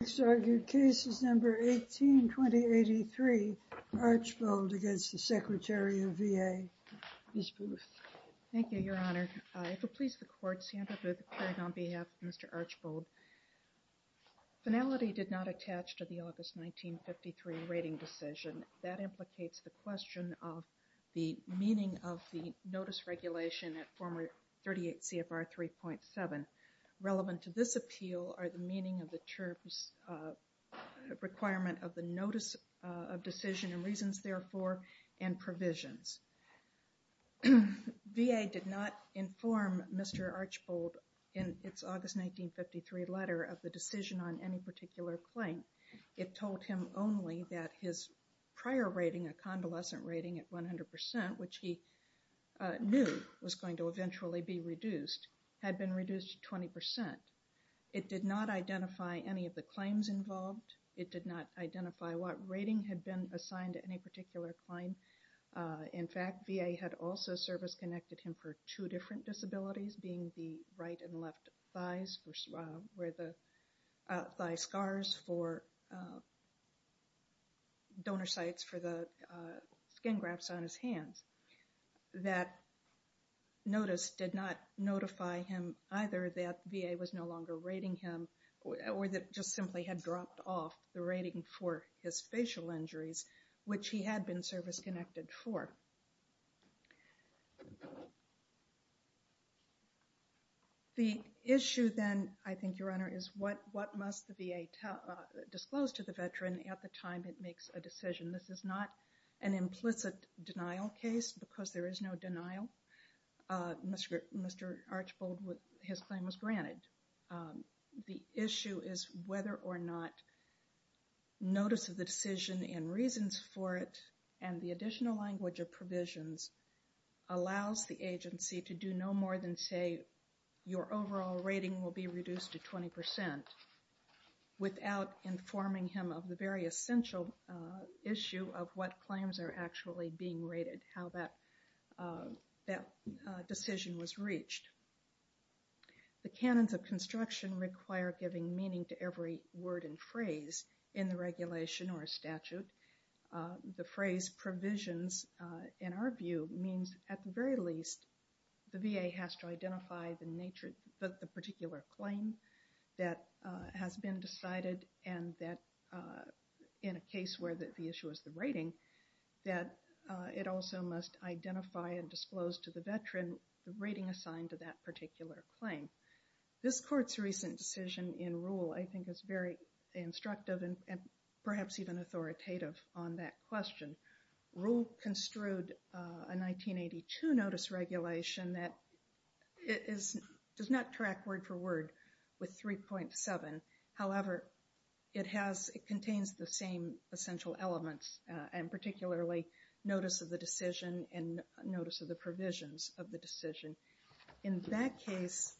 Next argument, case number 18-2083, Archbold against the Secretary of VA, Ms. Booth. Thank you, Your Honor. If it pleases the Court, Sandra Booth Craig on behalf of Mr. Archbold. Finality did not attach to the August 1953 rating decision. That implicates the question of the meaning of the notice regulation at former 38 CFR 3.7. Relevant to this appeal are the meaning of the term's requirement of the notice of decision and reasons, therefore, and provisions. VA did not inform Mr. Archbold in its August 1953 letter of the decision on any particular claim. It told him only that his prior rating, a convalescent rating at 100%, which he knew was going to eventually be reduced, had been reduced to 20%. It did not identify any of the claims involved. It did not identify what rating had been assigned to any particular claim. In fact, VA had also service-connected him for two different disabilities, being the right and left thigh scars for donor sites for the skin grafts on his hands. That notice did not notify him either that VA was no longer rating him or that it just simply had dropped off the rating for his facial injuries, which he had been service-connected for. The issue then, I think, Your Honor, is what must the VA disclose to the veteran at the time it makes a decision. This is not an implicit denial case because there is no denial. Mr. Archbold, his claim was granted. The issue is whether or not notice of the decision and reasons for it and the additional language of provisions allows the agency to do no more than say, your overall rating will be reduced to 20% without informing him of the very essential issue of what claims are actually being rated, how that decision was reached. The canons of construction require giving meaning to every word and phrase in the regulation or statute. The phrase provisions, in our view, means at the very least the VA has to identify the particular claim that has been decided and that in a case where the issue is the rating, that it also must identify and disclose to the veteran the rating assigned to that particular claim. This Court's recent decision in rule, I think, is very instructive and perhaps even authoritative on that question. Rule construed a 1982 notice regulation that does not track word for word with 3.7. However, it contains the same essential elements and particularly notice of the decision and notice of the provisions of the decision. In that case,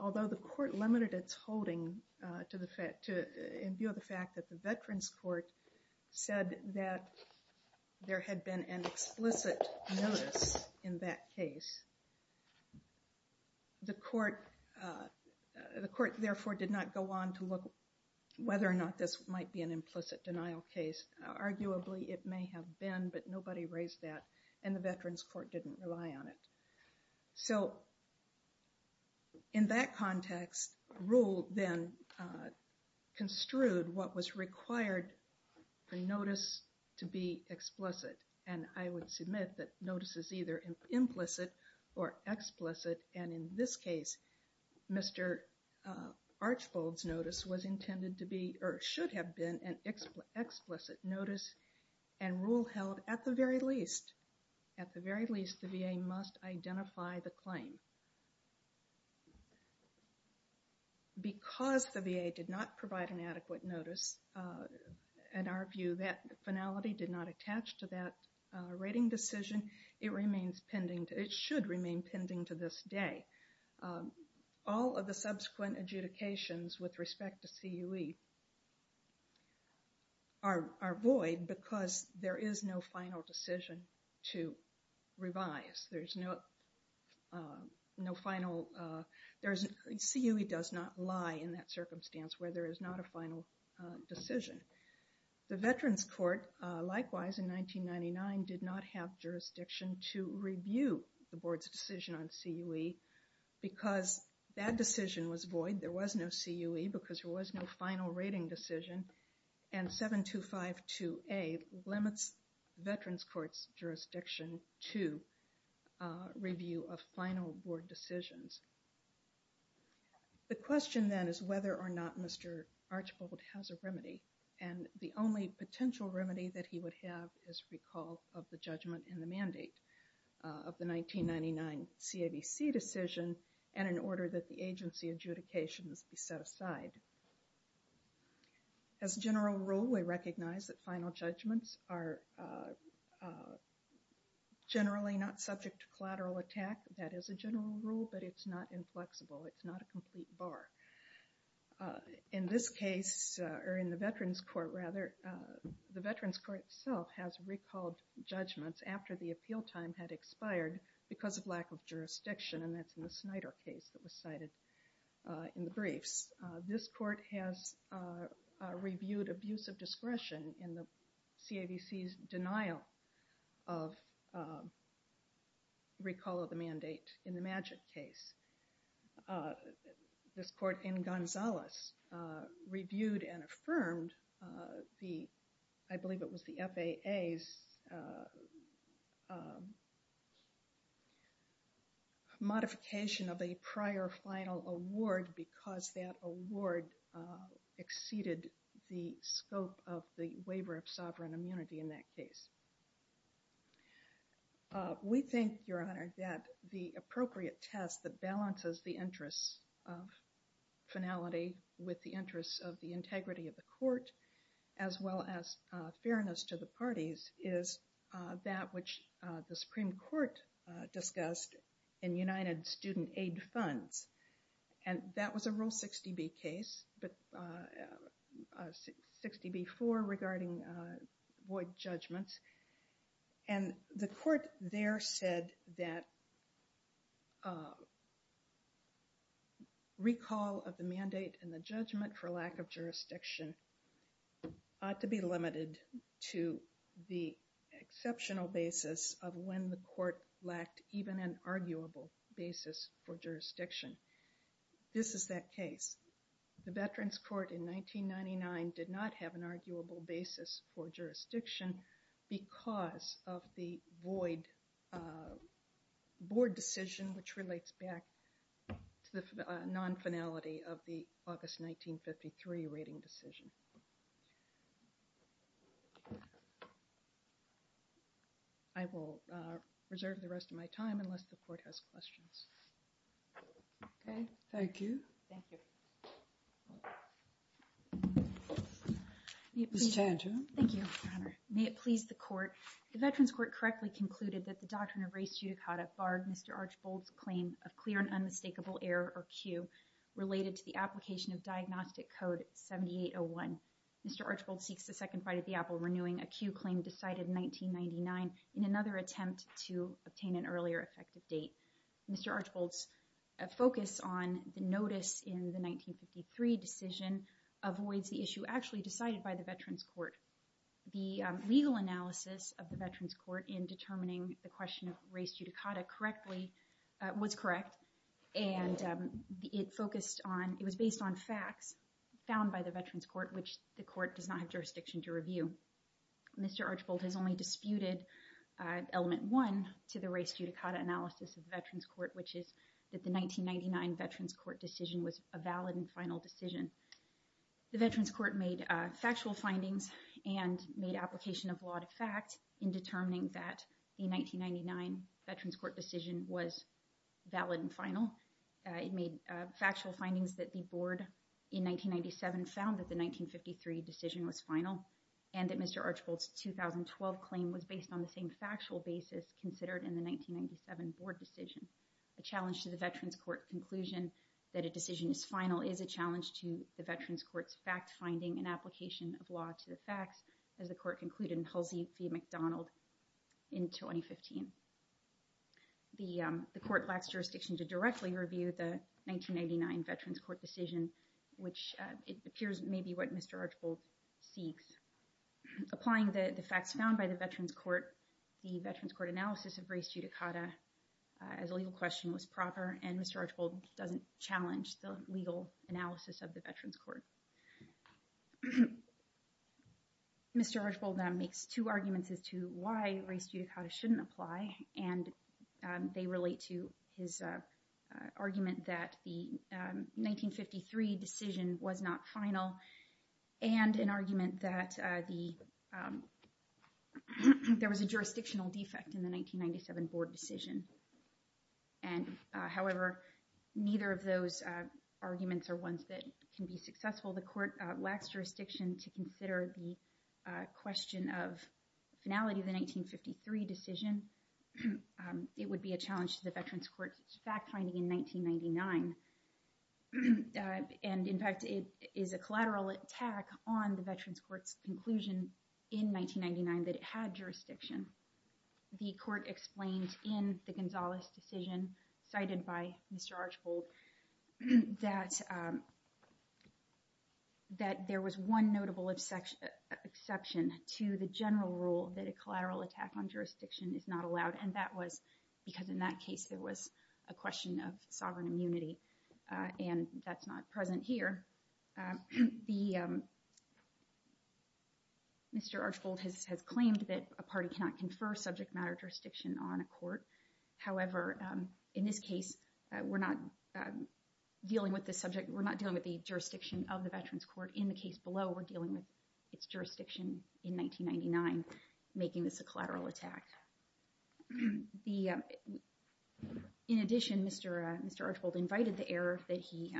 although the Court limited its holding in view of the fact that the Veterans Court said that there had been an explicit notice in that case, the Court therefore did not go on to look whether or not this might be an implicit denial case. Arguably, it may have been, but nobody raised that and the Veterans Court didn't rely on it. So, in that context, rule then construed what was required for notice to be explicit. And I would submit that notice is either implicit or explicit. And in this case, Mr. Archbold's notice was intended to be or should have been an explicit notice and rule held at the very least. At the very least, the VA must identify the claim. Because the VA did not provide an adequate notice, in our view, that finality did not attach to that rating decision. It should remain pending to this day. All of the subsequent adjudications with respect to CUE are void because there is no final decision to revise. There's no final, CUE does not lie in that circumstance where there is not a final decision. The Veterans Court, likewise in 1999, did not have jurisdiction to review the Board's decision on CUE because that decision was void. There was no CUE because there was no final rating decision. And 7252A limits Veterans Court's jurisdiction to review of final Board decisions. The question then is whether or not Mr. Archbold has a remedy. And the only potential remedy that he would have is recall of the judgment in the mandate of the 1999 CAVC decision and in order that the agency adjudications be set aside. As a general rule, we recognize that final judgments are generally not subject to collateral attack. That is a general rule, but it's not inflexible. It's not a complete bar. In this case, or in the Veterans Court rather, the Veterans Court itself has recalled judgments after the appeal time had expired because of lack of jurisdiction. And that's in the Snyder case that was cited in the briefs. This court has reviewed abuse of discretion in the CAVC's denial of recall of the mandate in the Magic case. This court in Gonzales reviewed and affirmed the, I believe it was the FAA's, modification of a prior final award because that award exceeded the scope of the waiver of sovereign immunity in that case. We think, Your Honor, that the appropriate test that balances the interests of finality with the interests of the integrity of the court, as well as fairness to the parties, is that which the Supreme Court discussed in United Student Aid Funds. And that was a Rule 60B case, 60B-4 regarding void judgments. And the court there said that recall of the mandate and the judgment for lack of jurisdiction ought to be limited to the exceptional basis of when the court lacked even an arguable basis for jurisdiction. This is that case. The Veterans Court in 1999 did not have an arguable basis for jurisdiction because of the void board decision which relates back to the non-finality of the August 1953 rating decision. I will reserve the rest of my time unless the court has questions. Okay. Thank you. Thank you. Ms. Tanton. Thank you, Your Honor. May it please the court. The Veterans Court correctly concluded that the Doctrine of Race Judicata barred Mr. Archibald's claim of clear and unmistakable error or cue related to the application of Diagnostic Code 7801. Mr. Archibald seeks a second fight at the apple renewing a cue claim decided in 1999 in another attempt to obtain an earlier effective date. Mr. Archibald's focus on the notice in the 1953 decision avoids the issue actually decided by the Veterans Court. The legal analysis of the Veterans Court in determining the question of race judicata correctly was correct. And it focused on it was based on facts found by the Veterans Court, which the court does not have jurisdiction to review. Mr. Archibald has only disputed element one to the race judicata analysis of Veterans Court, which is that the 1999 Veterans Court decision was a valid and final decision. The Veterans Court made factual findings and made application of law to fact in determining that the 1999 Veterans Court decision was valid and final. It made factual findings that the board in 1997 found that the 1953 decision was final and that Mr. Archibald's 2012 claim was based on the same factual basis considered in the 1997 board decision. A challenge to the Veterans Court conclusion that a decision is final is a challenge to the Veterans Court's fact finding and application of law to the facts as the court concluded in Halsey v. McDonald in 2015. The court lacks jurisdiction to directly review the 1999 Veterans Court decision, which it appears may be what Mr. Archibald seeks. Applying the facts found by the Veterans Court, the Veterans Court analysis of race judicata as a legal question was proper and Mr. Archibald doesn't challenge the legal analysis of the Veterans Court. Mr. Archibald makes two arguments as to why race judicata shouldn't apply and they relate to his argument that the 1953 decision was not final and an argument that there was a jurisdictional defect in the 1997 board decision. However, neither of those arguments are ones that can be successful. The court lacks jurisdiction to consider the question of finality of the 1953 decision. It would be a challenge to the Veterans Court's fact finding in 1999. In fact, it is a collateral attack on the Veterans Court's conclusion in 1999 that it had jurisdiction. The court explained in the Gonzalez decision cited by Mr. Archibald that there was one notable exception to the general rule that a collateral attack on jurisdiction is not allowed and that was because in that case there was a question of sovereign immunity and that's not present here. Mr. Archibald has claimed that a party cannot confer subject matter jurisdiction on a court. However, in this case, we're not dealing with the jurisdiction of the Veterans Court. In the case below, we're dealing with its jurisdiction in 1999 making this a collateral attack. In addition, Mr. Archibald invited the error that he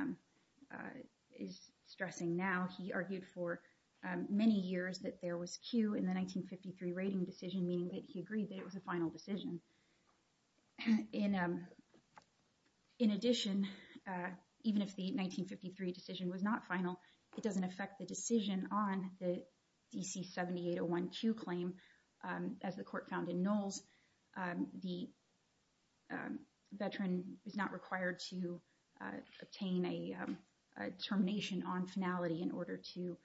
is stressing now. He argued for many years that there was Q in the 1953 rating decision, meaning that he agreed that it was a final decision. In addition, even if the 1953 decision was not final, it doesn't affect the decision on the DC 7801 Q claim. As the court found in Knowles, the veteran is not required to obtain a termination on finality in order to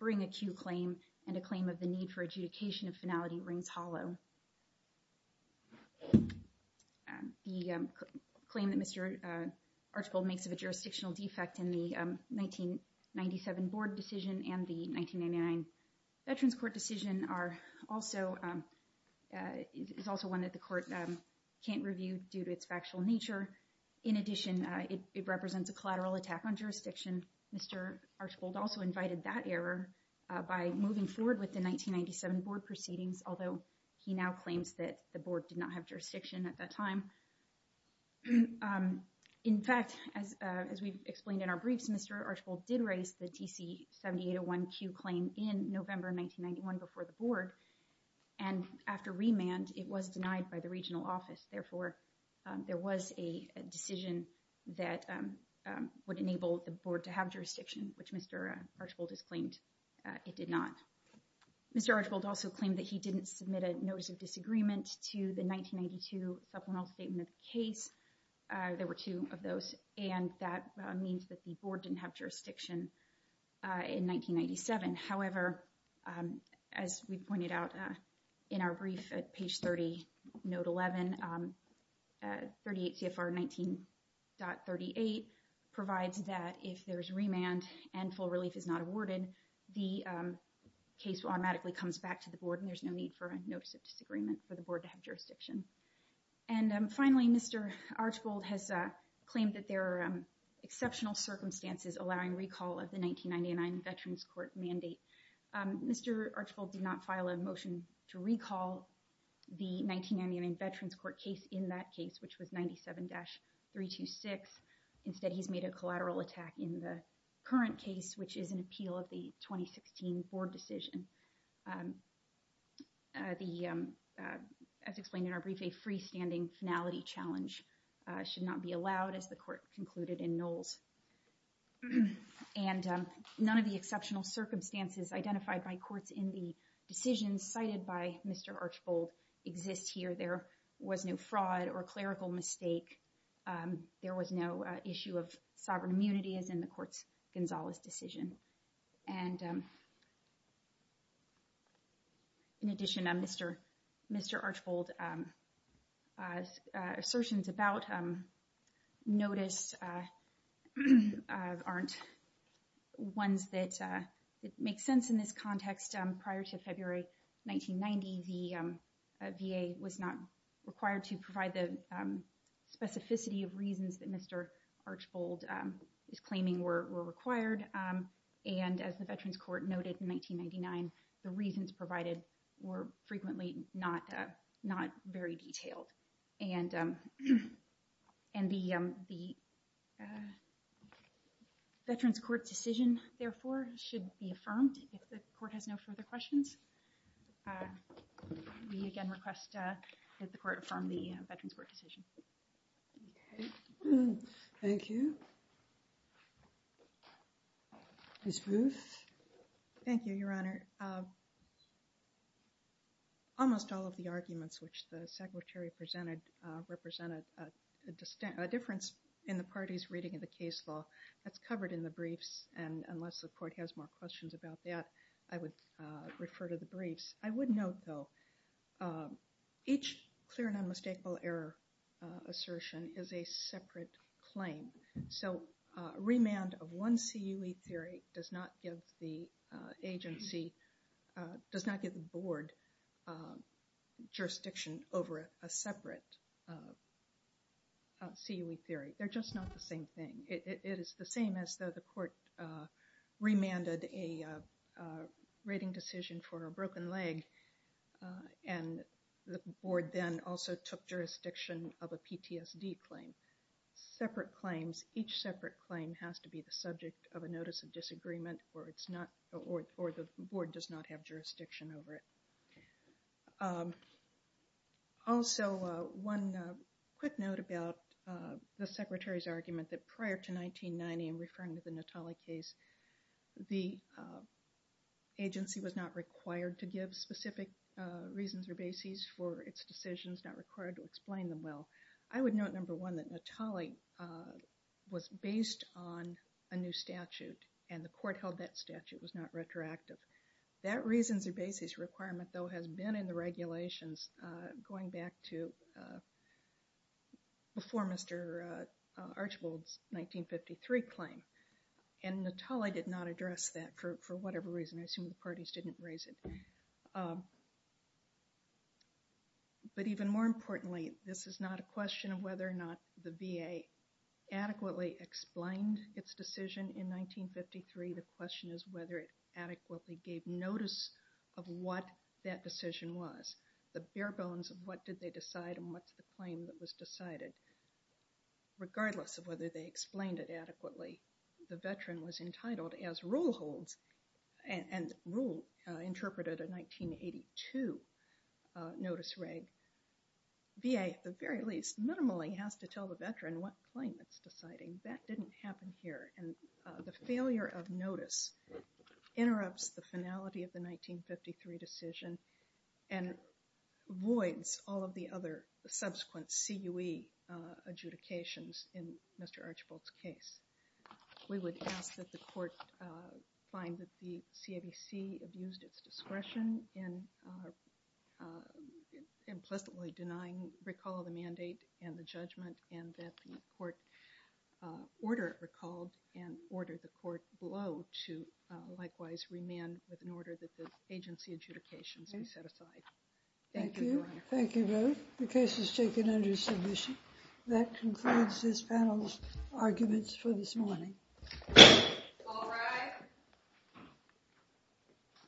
bring a Q claim and a claim of the need for adjudication of finality rings hollow. The claim that Mr. Archibald makes of a jurisdictional defect in the 1997 board decision and the 1999 Veterans Court decision is also one that the court can't review due to its factual nature. In addition, it represents a collateral attack on jurisdiction. Mr. Archibald also invited that error by moving forward with the 1997 board proceedings, although he now claims that the board did not have jurisdiction at that time. In fact, as we've explained in our briefs, Mr. Archibald did raise the DC 7801 Q claim in November 1991 before the board. And after remand, it was denied by the regional office. Therefore, there was a decision that would enable the board to have jurisdiction, which Mr. Archibald has claimed it did not. Mr. Archibald also claimed that he didn't submit a notice of disagreement to the 1992 supplemental statement of the case. There were two of those, and that means that the board didn't have jurisdiction in 1997. However, as we pointed out in our brief at page 30, note 11, 38 CFR 19.38 provides that if there is remand and full relief is not awarded, the case automatically comes back to the board and there's no need for a notice of disagreement for the board to have jurisdiction. And finally, Mr. Archibald has claimed that there are exceptional circumstances allowing recall of the 1999 Veterans Court mandate. Mr. Archibald did not file a motion to recall the 1999 Veterans Court case in that case, which was 97-326. Instead, he's made a collateral attack in the current case, which is an appeal of the 2016 board decision. As explained in our brief, a freestanding finality challenge should not be allowed, as the court concluded in Knowles. And none of the exceptional circumstances identified by courts in the decisions cited by Mr. Archibald exist here. There was no fraud or clerical mistake. There was no issue of sovereign immunity, as in the court's Gonzales decision. And in addition, Mr. Archibald's assertions about notice aren't ones that make sense in this context. Prior to February 1990, the VA was not required to provide the specificity of reasons that Mr. Archibald is claiming were required. And as the Veterans Court noted in 1999, the reasons provided were frequently not very detailed. And the Veterans Court decision, therefore, should be affirmed. If the court has no further questions, we again request that the court affirm the Veterans Court decision. Thank you. Ms. Ruth. Thank you, Your Honor. Your Honor, almost all of the arguments which the Secretary presented represented a difference in the party's reading of the case law. That's covered in the briefs, and unless the court has more questions about that, I would refer to the briefs. I would note, though, each clear and unmistakable error assertion is a separate claim. So a remand of one CUE theory does not give the agency, does not give the board, jurisdiction over a separate CUE theory. They're just not the same thing. It is the same as though the court remanded a rating decision for a broken leg, and the board then also took jurisdiction of a PTSD claim. Separate claims, each separate claim has to be the subject of a notice of disagreement, or the board does not have jurisdiction over it. Also, one quick note about the Secretary's argument that prior to 1990, in referring to the Natale case, the agency was not required to give specific reasons or bases for its decisions, not required to explain them well. I would note, number one, that Natale was based on a new statute, and the court held that statute was not retroactive. That reasons or bases requirement, though, has been in the regulations going back to before Mr. Archibald's 1953 claim, and Natale did not address that for whatever reason. I assume the parties didn't raise it. But even more importantly, this is not a question of whether or not the VA adequately explained its decision in 1953. The question is whether it adequately gave notice of what that decision was. The bare bones of what did they decide and what's the claim that was decided, regardless of whether they explained it adequately. The veteran was entitled as rule holds, and rule interpreted a 1982 notice reg. VA, at the very least, minimally has to tell the veteran what claim it's deciding. That didn't happen here. And the failure of notice interrupts the finality of the 1953 decision and voids all of the other subsequent CUE adjudications in Mr. Archibald's case. We would ask that the court find that the CAVC abused its discretion in implicitly denying recall of the mandate and the judgment, and that the court order recalled and order the court below to likewise remand with an order that the agency adjudications be set aside. Thank you. Thank you both. The case is taken under submission. That concludes this panel's arguments for this morning. All rise.